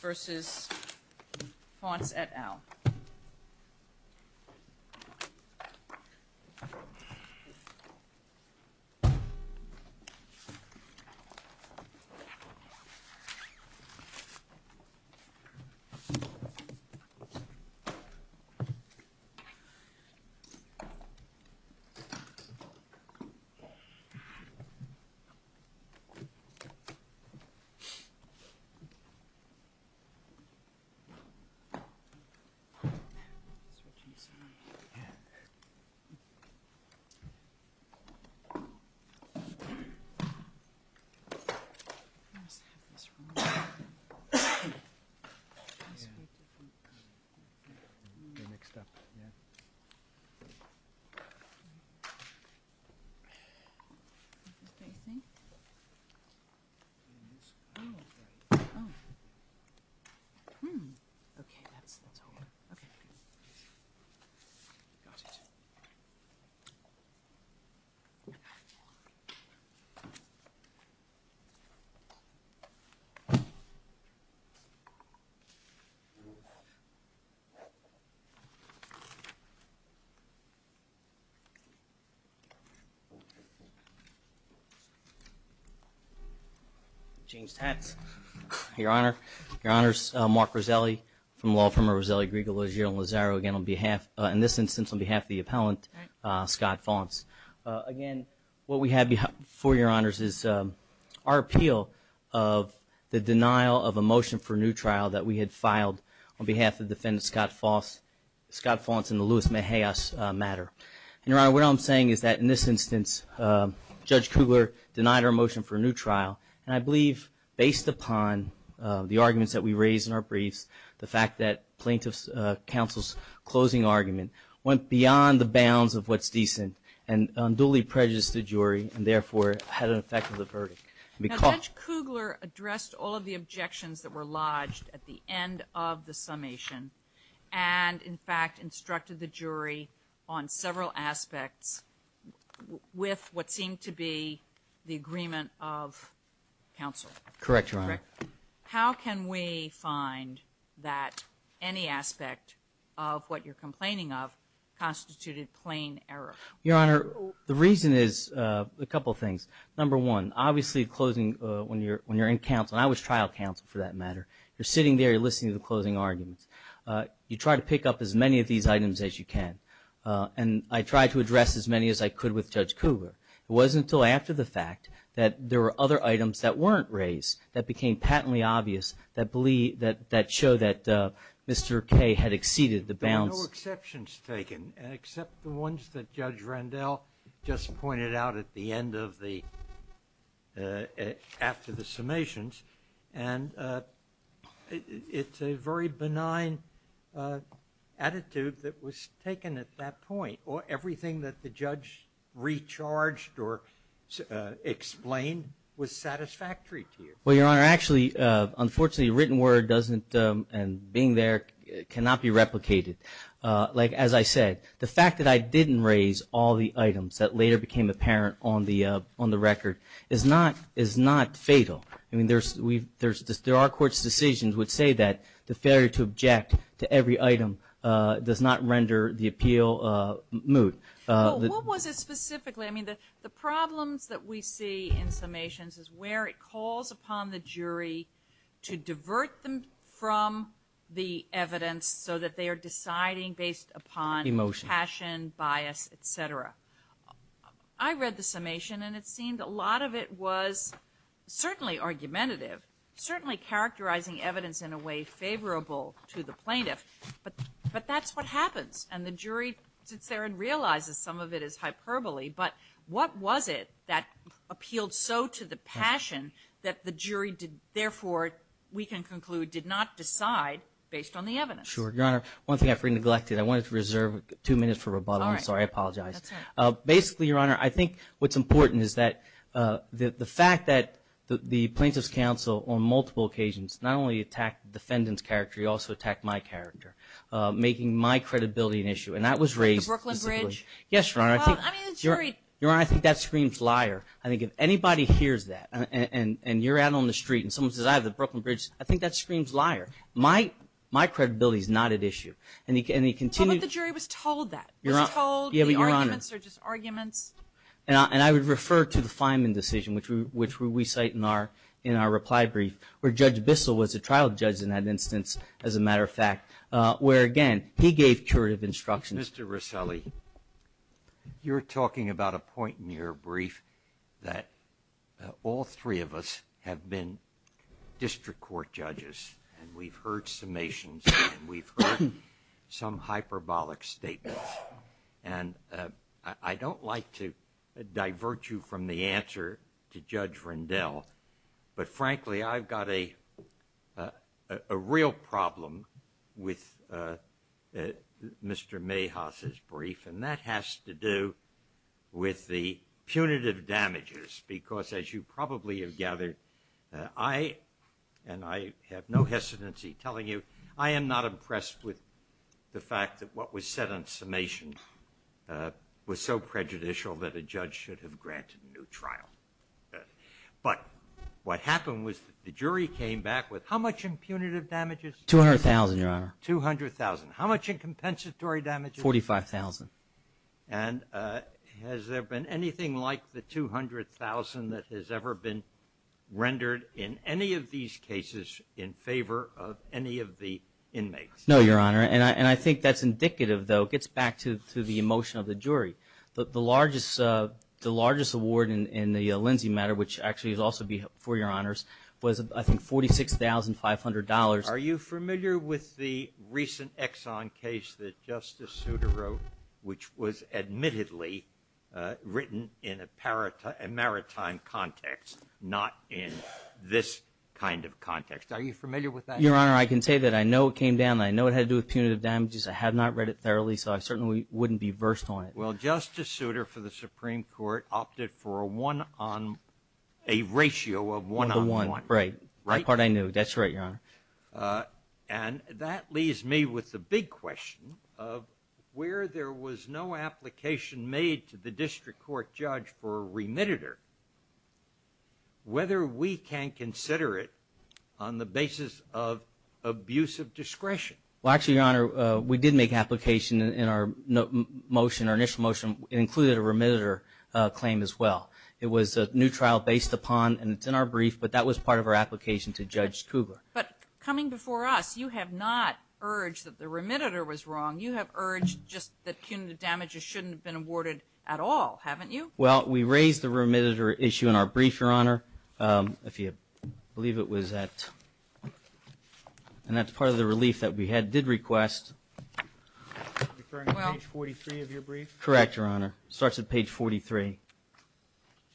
versus Faunce et al. Okay. Oh, oh. Hmm. Okay, that's, that's all. Okay. Got it. James Tetz. Your Honor, your Honors, Mark Roselli from law firm Roselli, Griegel, Legere, and Lozaro again on behalf, in this instance, on behalf of the appellant, Scott Faunce. Again, what we have for your Honors is our appeal of the denial of a motion for new trial that we had filed on behalf of Defendant Scott Faunce in the Louis Mejia's matter. And your Honor, what I'm saying is that in this instance, Judge Kugler denied our motion for a new trial. And I believe, based upon the arguments that we raised in our briefs, the fact that plaintiff's counsel's closing argument went beyond the bounds of what's decent and duly prejudiced the jury and therefore had an effect on the verdict. Now, Judge Kugler addressed all of the objections that were lodged at the end of the summation and, in fact, instructed the jury on several aspects with what seemed to be the agreement of counsel. Correct, Your Honor. How can we find that any aspect of what you're complaining of constituted plain error? Your Honor, the reason is a couple things. Number one, obviously closing, when you're in counsel, and I was trial counsel for that matter, you're sitting there, you're listening to the closing arguments. You try to pick up as many of these items as you can. And I tried to address as many as I could with Judge Kugler. It wasn't until after the fact that there were other items that weren't raised that became patently obvious that showed that Mr. K had exceeded the bounds. There were no exceptions taken, except the ones that Judge Randell just pointed out at the end of the, after the summations. And it's a very benign attitude that was taken at that point, or everything that the judge recharged or explained was satisfactory to you. Well, Your Honor, actually, unfortunately, written word doesn't, and being there, cannot be replicated. Like, as I said, the fact that I didn't raise all the items that later became apparent on the record is not fatal. I mean, there are courts' decisions would say that the failure to object to every item does not render the appeal moot. What was it specifically? I mean, the problems that we see in summations is where it calls upon the jury to divert them from the evidence so that they are deciding based upon passion, bias, et cetera. I read the summation, and it seemed a lot of it was certainly argumentative, certainly characterizing evidence in a way favorable to the plaintiff. But that's what happens. And the jury sits there and realizes some of it is hyperbole. But what was it that appealed so to the passion that the jury did, therefore, we can conclude, did not decide based on the evidence? Sure, Your Honor. One thing I've neglected, I wanted to reserve two minutes for rebuttal. I'm sorry, I apologize. Basically, Your Honor, I think what's important is that the fact that the Plaintiff's Counsel on multiple occasions not only attacked the defendant's character, he also attacked my character, making my credibility an issue. And that was raised. The Brooklyn Bridge? Yes, Your Honor. Well, I mean, the jury. Your Honor, I think that screams liar. I think if anybody hears that, and you're out on the street, and someone says, I have the Brooklyn Bridge, I think that screams liar. My credibility's not at issue. And he continued. But the jury was told that. Was told the arguments are just arguments. And I would refer to the Fineman decision, which we cite in our reply brief, where Judge Bissell was a trial judge in that instance, as a matter of fact, where, again, he gave curative instructions. Mr. Rosselli, you're talking about a point in your brief that all three of us have been district court judges, and we've heard summations, and we've heard some hyperbolic statements. And I don't like to divert you from the answer to Judge Rendell, but frankly, I've got a real problem with Mr. Mahas's brief, and that has to do with the punitive damages, because as you probably have gathered, I, and I have no hesitancy telling you, I am not impressed with the fact that what was said on summation was so prejudicial that a judge should have granted a new trial. But what happened was the jury came back with, how much in punitive damages? 200,000, Your Honor. 200,000. How much in compensatory damages? 45,000. And has there been anything like the 200,000 that has ever been rendered in any of these cases in favor of any of the inmates? No, Your Honor. And I think that's indicative, though, gets back to the emotion of the jury. The largest award in the Lindsay matter, which actually is also for Your Honors, was I think $46,500. Are you familiar with the recent Exxon case that Justice Souter wrote, which was admittedly written in a maritime context, not in this kind of context? Are you familiar with that case? Your Honor, I can say that I know it came down, and I know it had to do with punitive damages. I have not read it thoroughly, so I certainly wouldn't be versed on it. Well, Justice Souter, for the Supreme Court, opted for a one-on, a ratio of one-on-one. Right, right part I knew. That's right, Your Honor. And that leaves me with the big question of where there was no application made to the district court judge for a remittitor, whether we can consider it on the basis of abusive discretion. Well, actually, Your Honor, we did make application in our motion, it included a remittitor claim as well. It was a new trial based upon, and it's in our brief, but that was part of our application to Judge Kugler. But coming before us, you have not urged that the remittitor was wrong. You have urged just that punitive damages shouldn't have been awarded at all, haven't you? Well, we raised the remittitor issue in our brief, Your Honor. If you believe it was at, and that's part of the relief that we did request. Referring to page 43 of your brief? Correct, Your Honor. It starts at page 43.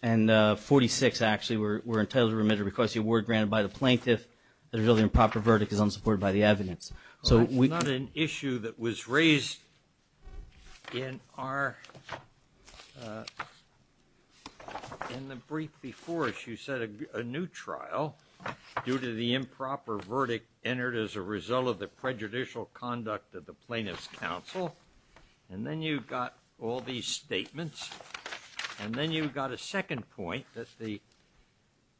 And 46, actually, we're entitled to remit to request the award granted by the plaintiff that a really improper verdict is unsupported by the evidence. So we- It's not an issue that was raised in our, in the brief before us. You said a new trial due to the improper verdict entered as a result of the prejudicial conduct of the plaintiff's counsel. And then you've got all these statements. And then you've got a second point that the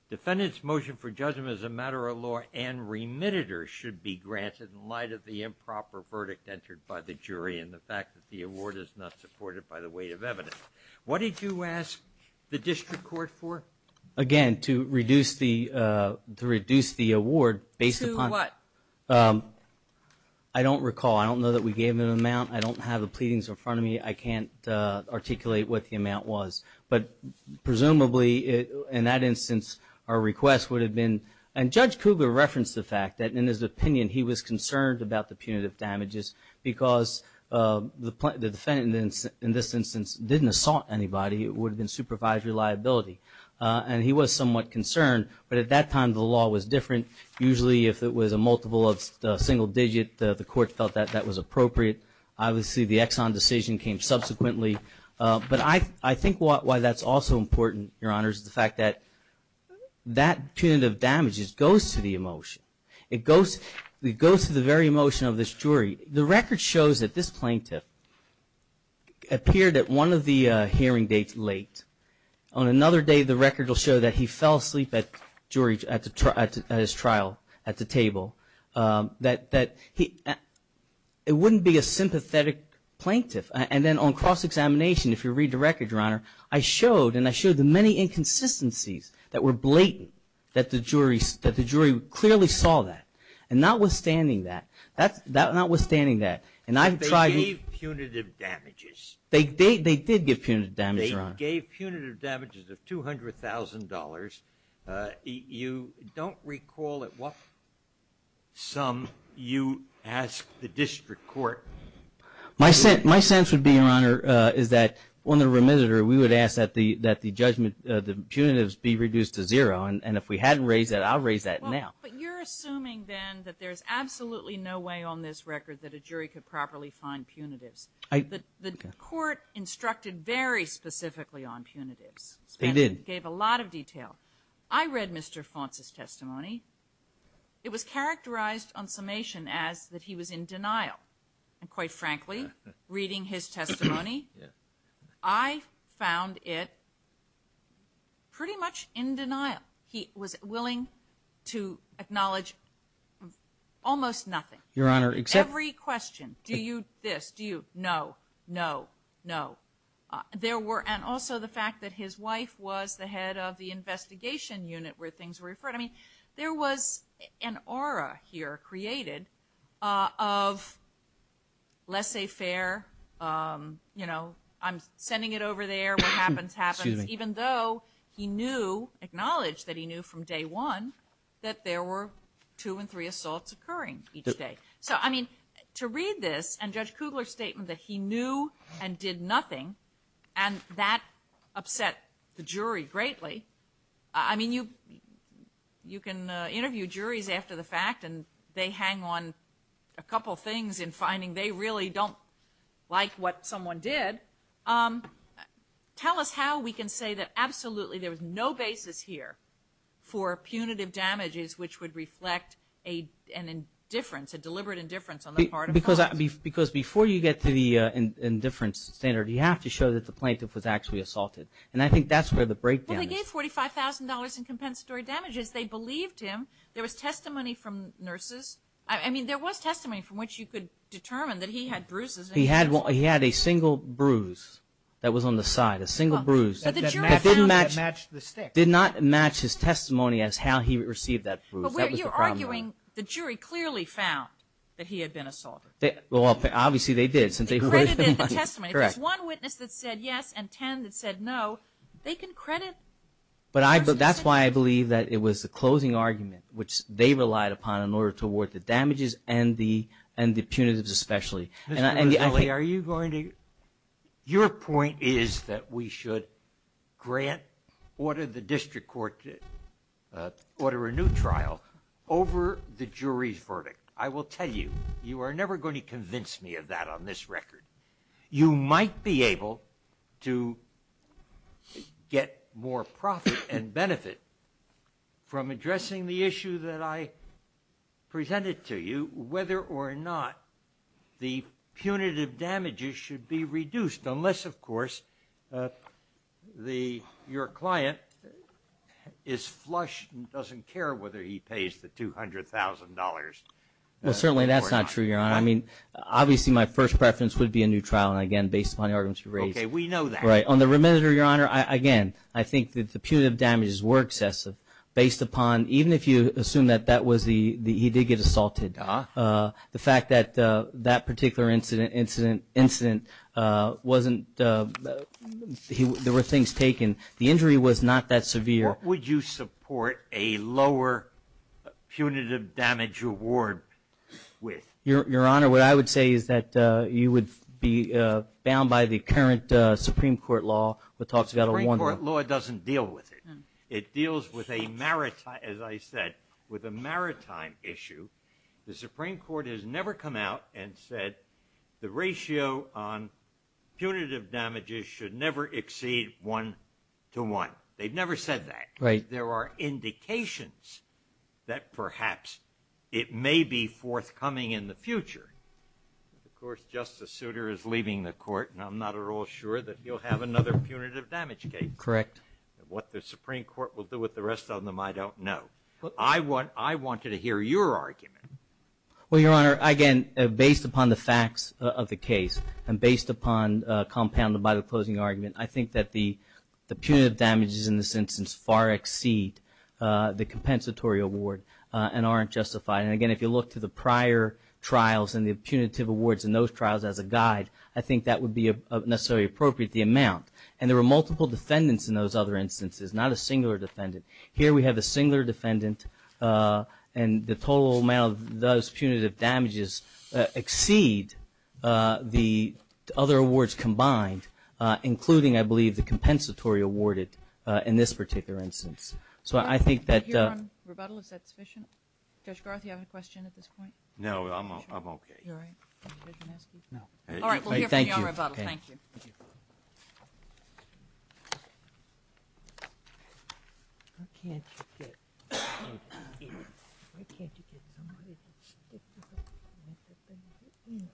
defendant's motion for judgment as a matter of law and remittitor should be granted in light of the improper verdict entered by the jury and the fact that the award is not supported by the weight of evidence. What did you ask the district court for? Again, to reduce the, to reduce the award based upon- To what? Um, I don't recall. I don't know that we gave an amount. I don't have the pleadings in front of me. I can't articulate what the amount was. But presumably, in that instance, our request would have been- And Judge Cougar referenced the fact that in his opinion, he was concerned about the punitive damages because the defendant, in this instance, didn't assault anybody. It would have been supervisory liability. And he was somewhat concerned. But at that time, the law was different. Usually, if it was a multiple of a single digit, the court felt that that was appropriate. Obviously, the Exxon decision came subsequently. But I think why that's also important, Your Honors, is the fact that that punitive damages goes to the emotion. It goes to the very emotion of this jury. The record shows that this plaintiff appeared at one of the hearing dates late. On another day, the record will show that he fell asleep at his trial at the table. It wouldn't be a sympathetic plaintiff. And then on cross-examination, if you read the record, Your Honor, I showed, and I showed the many inconsistencies that were blatant, that the jury clearly saw that. And notwithstanding that, that's notwithstanding that, and I've tried- But they gave punitive damages. They did give punitive damages, Your Honor. They gave punitive damages of $200,000. You don't recall at what sum you asked the district court- My sense would be, Your Honor, is that on the remitter, we would ask that the punitives be reduced to zero. And if we hadn't raised that, I'll raise that now. But you're assuming, then, that there's absolutely no way on this record that a jury could properly find punitives. The court instructed very specifically on punitives. They did. Gave a lot of detail. I read Mr. Fonce's testimony. It was characterized on summation as that he was in denial. And quite frankly, reading his testimony, I found it pretty much in denial. He was willing to acknowledge almost nothing. Your Honor, except- This, do you- No, no, no. There were- And also the fact that his wife was the head of the investigation unit where things were referred. I mean, there was an aura here created of laissez-faire. I'm sending it over there. What happens, happens. Even though he knew, acknowledged that he knew from day one, that there were two and three assaults occurring each day. So, I mean, to read this, and Judge Kugler's statement that he knew and did nothing, and that upset the jury greatly. I mean, you can interview juries after the fact, and they hang on a couple things in finding they really don't like what someone did. Tell us how we can say that absolutely there was no basis here for punitive damages which would reflect an indifference, a deliberate indifference on the part of funds. Because before you get to the indifference standard, you have to show that the plaintiff was actually assaulted. And I think that's where the breakdown is. Well, they gave $45,000 in compensatory damages. They believed him. There was testimony from nurses. I mean, there was testimony from which you could determine that he had bruises. He had a single bruise that was on the side, a single bruise. That matched the stick. Did not match his testimony as how he received that bruise. That was the problem. But you're arguing the jury clearly found that he had been assaulted. Well, obviously they did. They credited the testimony. If there's one witness that said yes and 10 that said no, they can credit. But that's why I believe that it was the closing argument, which they relied upon in order to award the damages and the punitives especially. Mr. Roselli, are you going to, your point is that we should grant, order the district court to order a new trial over the jury's verdict. I will tell you, you are never going to convince me of that on this record. You might be able to get more profit and benefit from addressing the issue that I presented to you, whether or not the punitive damages should be reduced unless, of course, your client is flush and doesn't care whether he pays the $200,000. Well, certainly that's not true, Your Honor. I mean, obviously my first preference would be a new trial. And again, based upon the arguments you raised. Okay, we know that. Right, on the reminder, Your Honor, again, I think that the punitive damages were excessive based upon, even if you assume that that was the, he did get assaulted, the fact that that particular incident wasn't, there were things taken. The injury was not that severe. What would you support a lower punitive damage award with? Your Honor, what I would say is that you would be bound by the current Supreme Court law that talks about a one. The Supreme Court law doesn't deal with it. It deals with a maritime, as I said, with a maritime issue. The Supreme Court has never come out and said the ratio on punitive damages should never exceed one to one. They've never said that. Right. There are indications that perhaps it may be forthcoming in the future. Of course, Justice Souter is leaving the court and I'm not at all sure that he'll have another punitive damage case. Correct. And what the Supreme Court will do with the rest of them, I don't know. I want you to hear your argument. Well, Your Honor, again, based upon the facts of the case and based upon compounded by the closing argument, I think that the punitive damages in this instance far exceed the compensatory award and aren't justified. And again, if you look to the prior trials and the punitive awards in those trials as a guide, I think that would be necessarily appropriate, the amount. And there were multiple defendants in those other instances, not a singular defendant. Here we have a singular defendant and the total amount of those punitive damages exceed the other awards combined, including, I believe, the compensatory awarded in this particular instance. So I think that- Your Honor, rebuttal, is that sufficient? Judge Garth, you have a question at this point? No, I'm okay. You're all right? Did the judge ask you? No. All right, we'll hear from you on rebuttal. Thank you. Why can't you get, why can't you get somebody to stick to the punitive damages?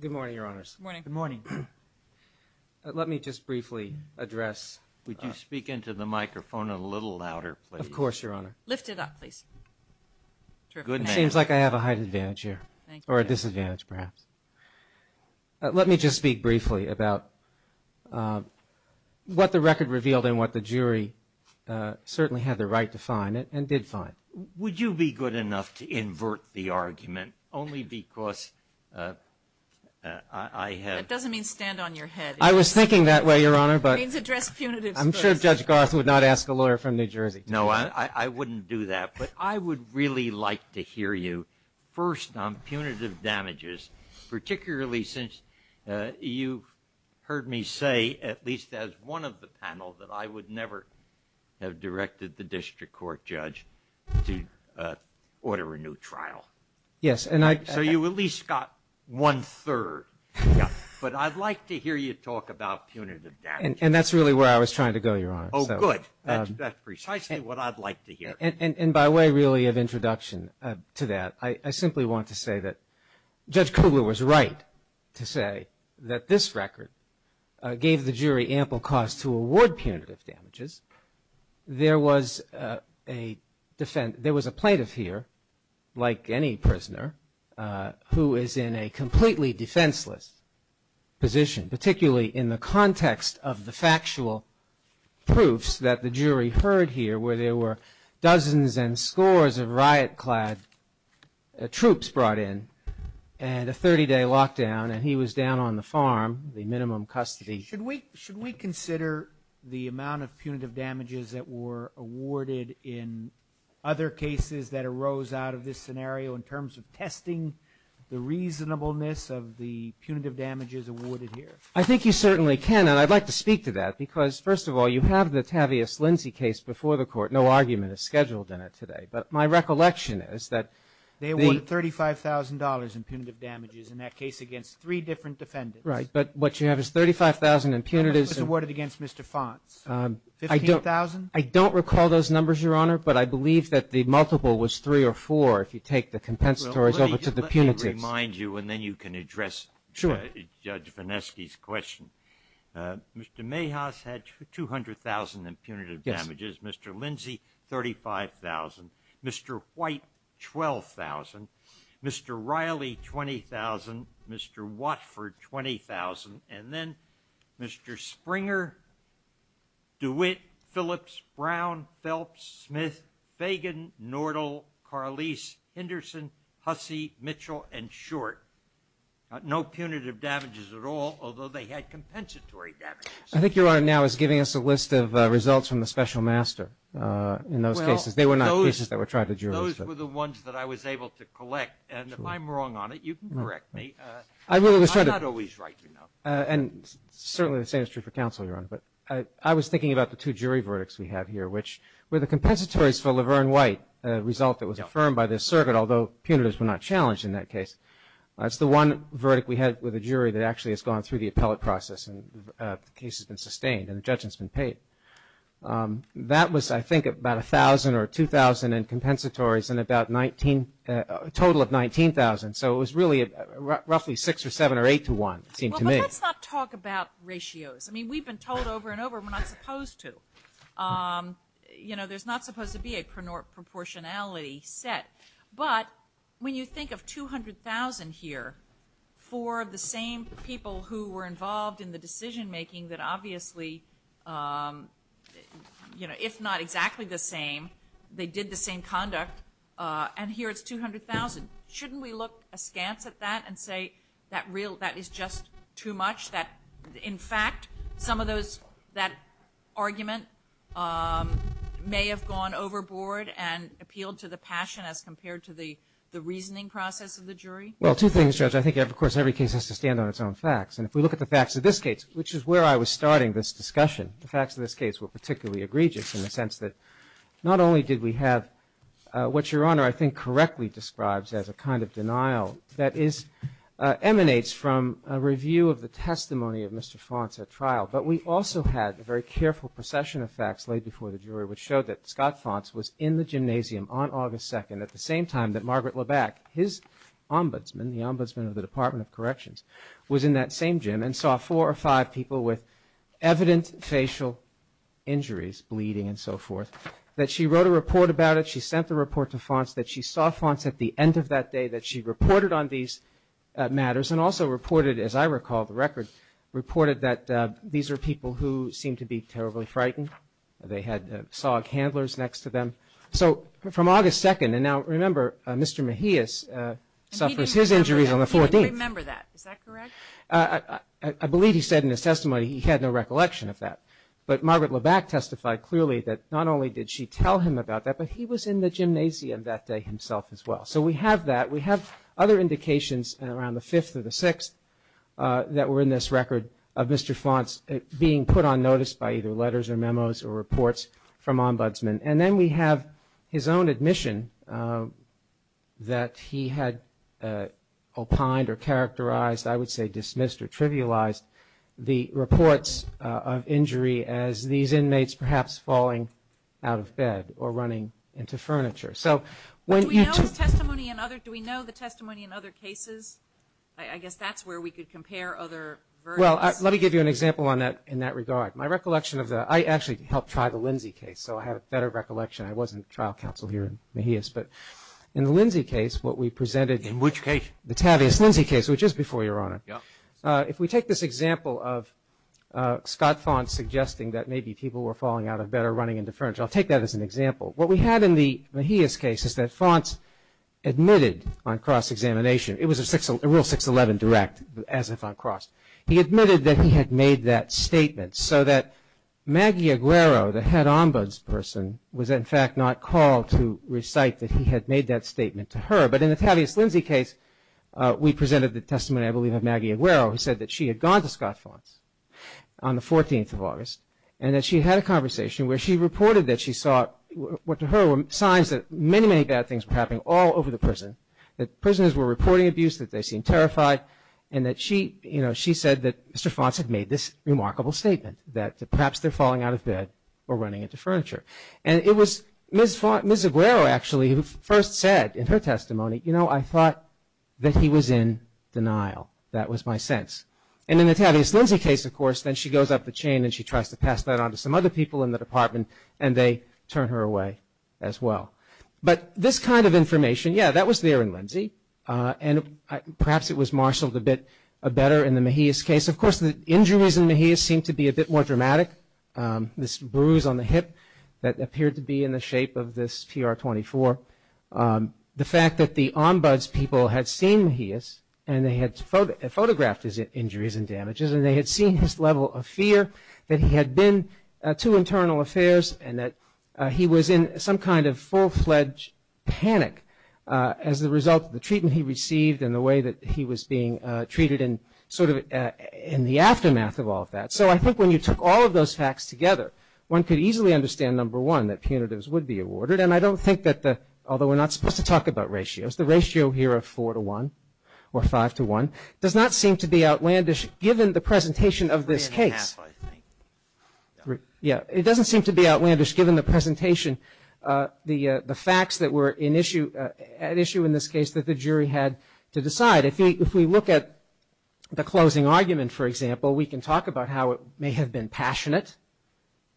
Good morning, Your Honors. Good morning. Good morning. Let me just briefly address- Would you speak into the microphone a little louder, please? Of course, Your Honor. Lift it up, please. Terrific. It seems like I have a height advantage here, or a disadvantage, perhaps. Let me just speak briefly about what the record revealed and what the jury certainly had the right to find, and did find. Would you be good enough to invert the argument, only because I have- That doesn't mean stand on your head. I was thinking that way, Your Honor, but- Means address punitives first. I'm sure Judge Garth would not ask a lawyer from New Jersey to- No, I wouldn't do that, but I would really like to hear you first on punitive damages, particularly since you heard me say, at least as one of the panel, that I would never have directed the district court judge to order a new trial. Yes, and I- So you at least got one third. But I'd like to hear you talk about punitive damages. And that's really where I was trying to go, Your Honor. Oh, good. That's precisely what I'd like to hear. And by way, really, of introduction to that, I simply want to say that Judge Kugler was right to say that this record gave the jury ample cause to award punitive damages. There was a plaintiff here, like any prisoner, who is in a completely defenseless position, particularly in the context of the factual proofs that the jury heard here, where there were dozens and scores of riot-clad troops brought in, and a 30-day lockdown, and he was down on the farm, the minimum custody. Should we consider the amount of punitive damages that were awarded in other cases that arose out of this scenario, in terms of testing the reasonableness of the punitive damages awarded here? I think you certainly can, and I'd like to speak to that, because, first of all, you have the Tavius Lindsey case before the court. No argument is scheduled in it today. But my recollection is that- They awarded $35,000 in punitive damages in that case against three different defendants. Right, but what you have is $35,000 in punitives- And this was awarded against Mr. Fonce, $15,000? I don't recall those numbers, Your Honor, but I believe that the multiple was three or four, if you take the compensatories over to the punitives. Let me remind you, and then you can address Judge Vonesky's question. Mr. Mayhaus had $200,000 in punitive damages, Mr. Lindsey, $35,000, Mr. White, $12,000, Mr. Riley, $20,000, Mr. Watford, $20,000, and then Mr. Springer, DeWitt, Phillips, Brown, Phelps, Smith, Fagan, Nordl, Carlese, Henderson, Hussey, Mitchell, and Short. No punitive damages at all, although they had compensatory damages. I think Your Honor now is giving us a list of results from the special master in those cases. They were not cases that were tried to jurors. Those were the ones that I was able to collect, and if I'm wrong on it, you can correct me. I really was trying to- I'm not always right, you know. And certainly the same is true for counsel, Your Honor, but I was thinking about the two jury verdicts we have here, which were the compensatories for Laverne White, a result that was affirmed by this circuit, although punitives were not challenged in that case. That's the one verdict we had with a jury that actually has gone through the appellate process, and the case has been sustained, and the judgment's been paid. That was, I think, about 1,000 or 2,000 in compensatories, and a total of 19,000. So it was really roughly six or seven or eight to one, it seemed to me. Well, but let's not talk about ratios. I mean, we've been told over and over, we're not supposed to. You know, there's not supposed to be a proportionality set, but when you think of 200,000 here, four of the same people who were involved in the decision-making that obviously, you know, if not exactly the same, they did the same conduct, and here it's 200,000. Shouldn't we look askance at that and say that is just too much, that in fact, some of that argument may have gone overboard and appealed to the passion as compared to the reasoning process of the jury? Well, two things, Judge. I think, of course, every case has to stand on its own facts, and if we look at the facts of this case, which is where I was starting this discussion, the facts of this case were particularly egregious in the sense that not only did we have what Your Honor, I think, correctly describes as a kind of denial that emanates from a review of the testimony of Mr. Fonce at trial, but we also had a very careful procession of facts laid before the jury which showed that Scott Fonce was in the gymnasium on August 2nd at the same time that Margaret Labacque, his ombudsman, the ombudsman of the Department of Corrections, was in that same gym and saw four or five people with evident facial injuries, bleeding and so forth, that she wrote a report about it, she sent the report to Fonce, that she saw Fonce at the end of that day, that she reported on these matters and also reported, as I recall, the record reported that these were people who seemed to be terribly frightened. They had SOG handlers next to them. So from August 2nd, and now remember, Mr. Mejia suffers his injuries on the 14th. I remember that, is that correct? I believe he said in his testimony he had no recollection of that, but Margaret Labacque testified clearly that not only did she tell him about that, but he was in the gymnasium that day himself as well. So we have that, we have other indications around the 5th or the 6th that were in this record of Mr. Fonce being put on notice by either letters or memos or reports from ombudsman, and then we have his own admission that he had opined or characterized, I would say dismissed or trivialized the reports of injury as these inmates perhaps falling out of bed or running into furniture. So when you took- Do we know the testimony in other, do we know the testimony in other cases? I guess that's where we could compare other versions. Well, let me give you an example in that regard. My recollection of the, I actually helped try the Lindsay case, so I have a better recollection. I wasn't trial counsel here in Mejia's, but in the Lindsay case, what we presented- In which case? The Tavius-Lindsay case, which is before your honor. If we take this example of Scott Fonce suggesting that maybe people were falling out of bed or running into furniture, I'll take that as an example. What we had in the Mejia's case is that Fonce admitted on cross-examination, it was a rule 611 direct, as if on cross. He admitted that he had made that statement so that Maggie Aguero, the head ombuds person, was in fact not called to recite that he had made that statement to her. But in the Tavius-Lindsay case, we presented the testimony, I believe, of Maggie Aguero, who said that she had gone to Scott Fonce on the 14th of August, and that she had a conversation where she reported that she saw, what to her were signs that many, many bad things were happening all over the prison. That prisoners were reporting abuse, that they seemed terrified, and that she said that Mr. Fonce had made this remarkable statement that perhaps they're falling out of bed or running into furniture. And it was Ms. Aguero, actually, who first said in her testimony, you know, I thought that he was in denial. That was my sense. And in the Tavius-Lindsay case, of course, then she goes up the chain and she tries to pass that on to some other people in the department, and they turn her away as well. But this kind of information, yeah, that was there in Lindsay, and perhaps it was marshaled a bit better in the Mejia's case. Of course, the injuries in Mejia's seemed to be a bit more dramatic. This bruise on the hip that appeared to be in the shape of this PR-24. The fact that the ombuds people had seen Mejia's and they had photographed his injuries and damages, and they had seen his level of fear, that he had been to internal affairs, and that he was in some kind of full-fledged panic as a result of the treatment he received and the way that he was being treated and sort of in the aftermath of all of that. So I think when you took all of those facts together, one could easily understand, number one, that punitives would be awarded, and I don't think that the, although we're not supposed to talk about ratios, the ratio here of four to one, or five to one, does not seem to be outlandish given the presentation of this case. Three and a half, I think. Yeah, it doesn't seem to be outlandish given the presentation, the facts that were at issue in this case that the jury had to decide. If we look at the closing argument, for example, we can talk about how it may have been passionate,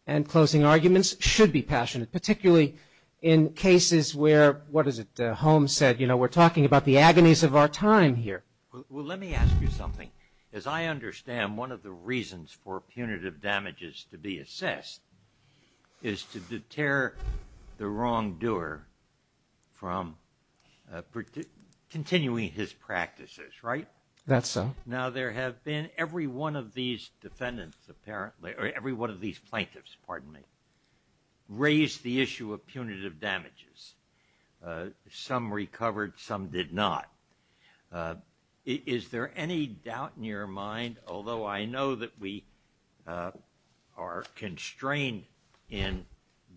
and closing arguments should be passionate, particularly in cases where, what is it, Holmes said, you know, we're talking about the agonies of our time here. Well, let me ask you something. As I understand, one of the reasons for punitive damages to be assessed is to deter the wrongdoer from continuing his practices, right? That's so. Now, there have been, every one of these defendants, apparently, or every one of these plaintiffs, pardon me, raised the issue of punitive damages. Some recovered, some did not. Is there any doubt in your mind, although I know that we are constrained in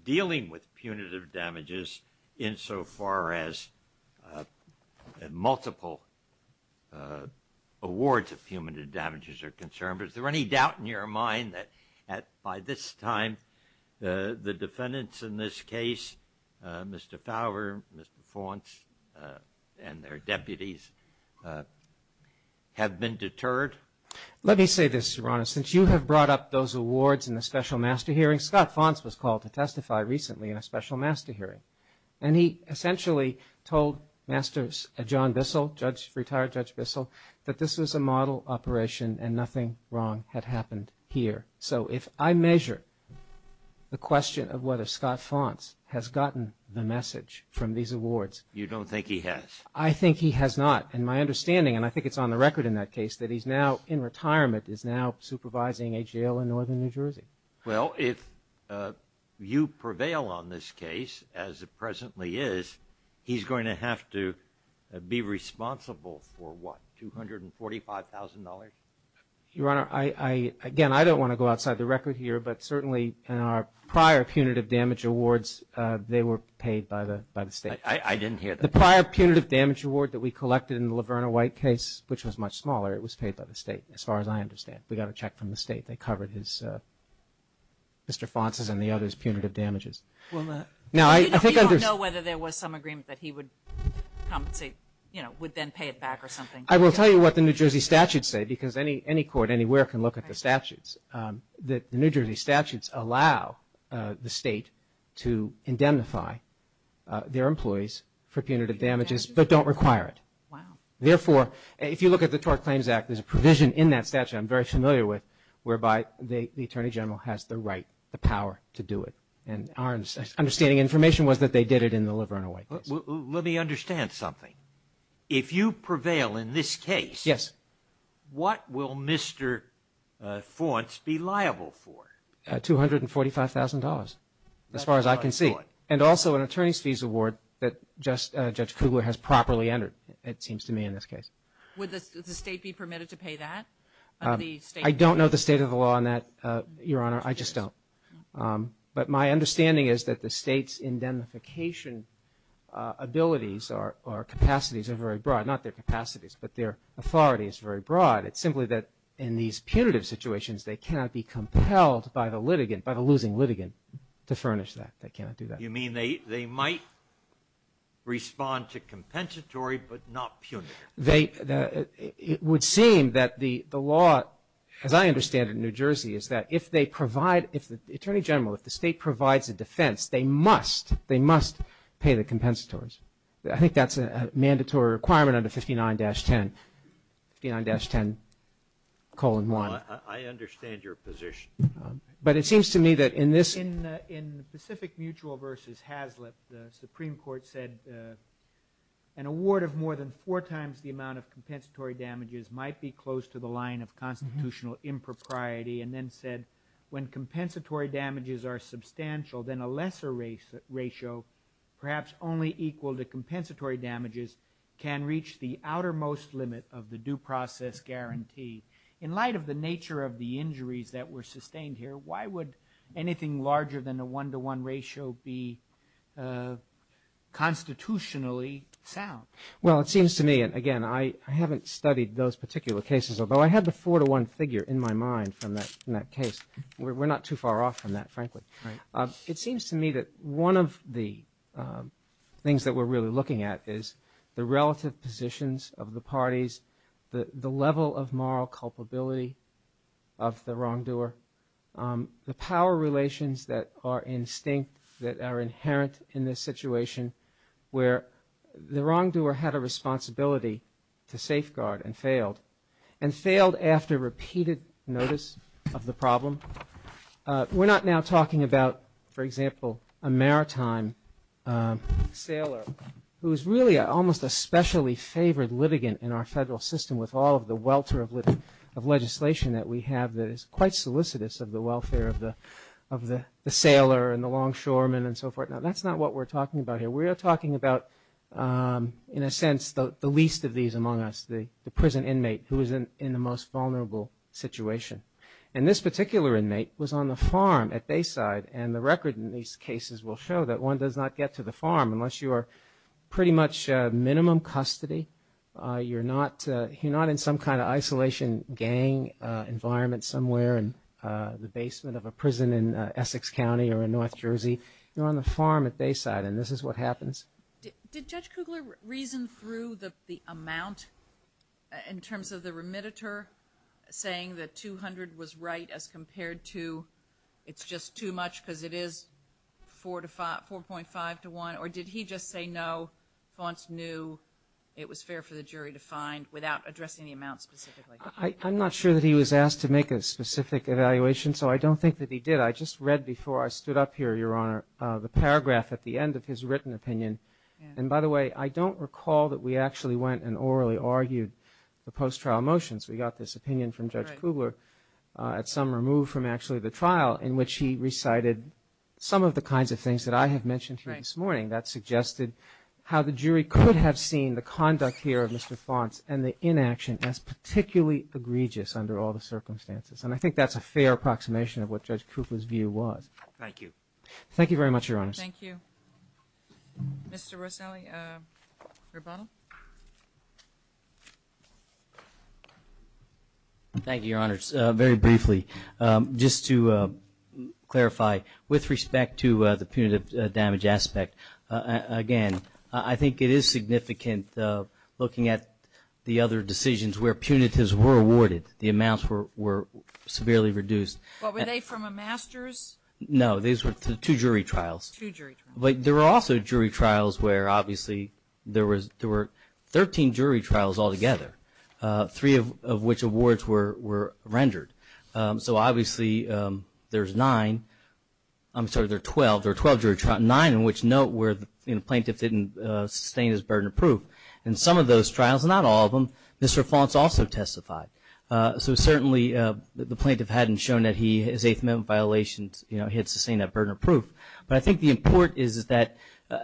dealing with punitive damages insofar as multiple awards of punitive damages are concerned, but is there any doubt in your mind that by this time, the defendants in this case, Mr. Fowler, Mr. Fonce, and their deputies have been deterred? Let me say this, Your Honor. Since you have brought up those awards in the special master hearing, Scott Fonce was called to testify recently in a special master hearing, and he essentially told John Bissell, retired Judge Bissell, that this was a model operation and nothing wrong had happened here. So if I measure the question of whether Scott Fonce has gotten the message from these awards. You don't think he has? I think he has not, and my understanding, and I think it's on the record in that case, that he's now in retirement, is now supervising a jail in northern New Jersey. Well, if you prevail on this case, as it presently is, he's going to have to be responsible for what? $245,000? Your Honor, again, I don't wanna go outside the record here, but certainly in our prior punitive damage awards, they were paid by the state. I didn't hear that. The prior punitive damage award that we collected in the Laverna White case, which was much smaller, it was paid by the state, as far as I understand. We got a check from the state. They covered Mr. Fonce's and the other's punitive damages. Well, we don't know whether there was some agreement that he would compensate, would then pay it back or something. I will tell you what the New Jersey statutes say, because any court anywhere can look at the statutes, that the New Jersey statutes allow the state to indemnify their employees for punitive damages, but don't require it. Therefore, if you look at the Tort Claims Act, there's a provision in that statute I'm very familiar with, whereby the Attorney General has the right, the power to do it. And our understanding and information was that they did it in the Laverna White case. Let me understand something. If you prevail in this case, what will Mr. Fonce be liable for? $245,000, as far as I can see. And also an attorney's fees award that Judge Kugler has properly entered, it seems to me in this case. Would the state be permitted to pay that? I don't know the state of the law on that, Your Honor. I just don't. But my understanding is that the state's indemnification abilities or capacities are very broad. Not their capacities, but their authority is very broad. It's simply that in these punitive situations, they cannot be compelled by the litigant, by the losing litigant, to furnish that. They cannot do that. You mean they might respond to compensatory, but not punitive? They, it would seem that the law, as I understand it in New Jersey, is that if they provide, if the Attorney General, if the state provides a defense, they must, they must pay the compensatories. I think that's a mandatory requirement under 59-10. 59-10, colon one. I understand your position. But it seems to me that in this. In the Pacific Mutual versus Haslip, the Supreme Court said an award of more than four times the amount of compensatory damages might be close to the line of constitutional impropriety, and then said when compensatory damages are substantial, then a lesser ratio, perhaps only equal to compensatory damages, can reach the outermost limit of the due process guarantee. In light of the nature of the injuries that were sustained here, why would anything larger than a one-to-one ratio be constitutionally sound? Well, it seems to me, and again, I haven't studied those particular cases, although I had the four-to-one figure in my mind from that case. We're not too far off from that, frankly. It seems to me that one of the things that we're really looking at is the relative positions of the parties, the level of moral culpability of the wrongdoer, the power relations that are instinct, that are inherent in this situation, where the wrongdoer had a responsibility to safeguard and failed, and failed after repeated notice of the problem. We're not now talking about, for example, a maritime sailor who is really an almost especially favored litigant in our federal system with all of the welter of legislation that we have that is quite solicitous of the welfare of the sailor and the longshoreman and so forth. Now, that's not what we're talking about here. We are talking about, in a sense, the least of these among us, the prison inmate who is in the most vulnerable situation. And this particular inmate was on the farm at Bayside, and the record in these cases will show that one does not get to the farm unless you are pretty much minimum custody. You're not in some kind of isolation gang environment somewhere in the basement of a prison in Essex County or in North Jersey. You're on the farm at Bayside, and this is what happens. Did Judge Kugler reason through the amount in terms of the remediator saying that 200 was right as compared to it's just too much because it is 4.5 to one? Or did he just say no, Fonce knew it was fair for the jury to find without addressing the amount specifically? I'm not sure that he was asked to make a specific evaluation, so I don't think that he did. I just read before I stood up here, Your Honor, the paragraph at the end of his written opinion. And by the way, I don't recall that we actually went and orally argued the post-trial motions. We got this opinion from Judge Kugler at some removed from actually the trial in which he recited some of the kinds of things that I have mentioned here this morning that suggested how the jury could have seen the conduct here of Mr. Fonce and the inaction as particularly egregious under all the circumstances. And I think that's a fair approximation of what Judge Kugler's view was. Thank you. Thank you very much, Your Honors. Thank you. Mr. Roselli, rebuttal. Thank you, Your Honors. Very briefly, just to clarify, with respect to the punitive damage aspect, again, I think it is significant looking at the other decisions where punitives were awarded, the amounts were severely reduced. What, were they from a master's? No, these were two jury trials. Two jury trials. But there were also jury trials where obviously there were 13 jury trials altogether, three of which awards were rendered. So obviously, there's nine, I'm sorry, there are 12, there are 12 jury trials, nine in which note where the plaintiff didn't sustain his burden of proof. And some of those trials, not all of them, Mr. Fonce also testified. So certainly, the plaintiff hadn't shown that he, his eighth amendment violations, he had sustained that burden of proof. But I think the import is that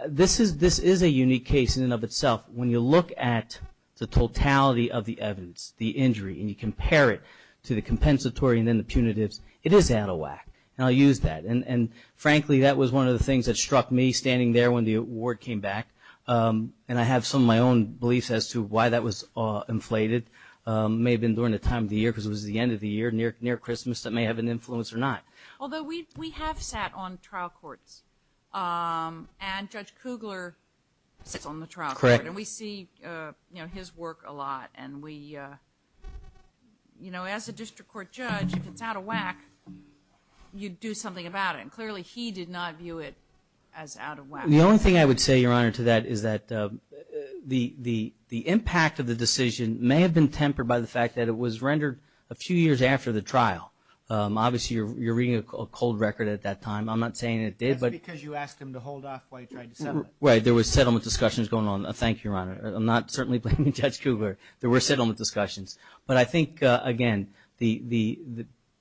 this is a unique case in and of itself. When you look at the totality of the evidence, the injury, and you compare it to the compensatory and then the punitives, it is out of whack. And I'll use that. And frankly, that was one of the things that struck me standing there when the award came back. And I have some of my own beliefs as to why that was inflated. May have been during the time of the year because it was the end of the year, near Christmas, that may have an influence or not. Although we have sat on trial courts. And Judge Kugler sits on the trial court. And we see his work a lot. And we, you know, as a district court judge, if it's out of whack, you do something about it. And clearly, he did not view it as out of whack. The only thing I would say, Your Honor, to that is that the impact of the decision may have been tempered by the fact that it was rendered a few years after the trial. Obviously, you're reading a cold record at that time. I'm not saying it did, but. That's because you asked him to hold off while you tried to settle it. Right, there was settlement discussions going on. Thank you, Your Honor. I'm not certainly blaming Judge Kugler. There were settlement discussions. But I think, again, the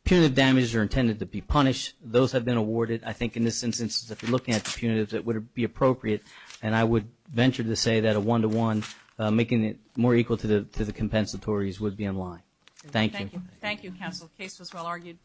punitive damages are intended to be punished. Those have been awarded. I think in this instance, if you're looking at the punitives, it would be appropriate. And I would venture to say that a one-to-one, making it more equal to the compensatories would be unlawful. Thank you. Thank you, counsel. The case was well argued.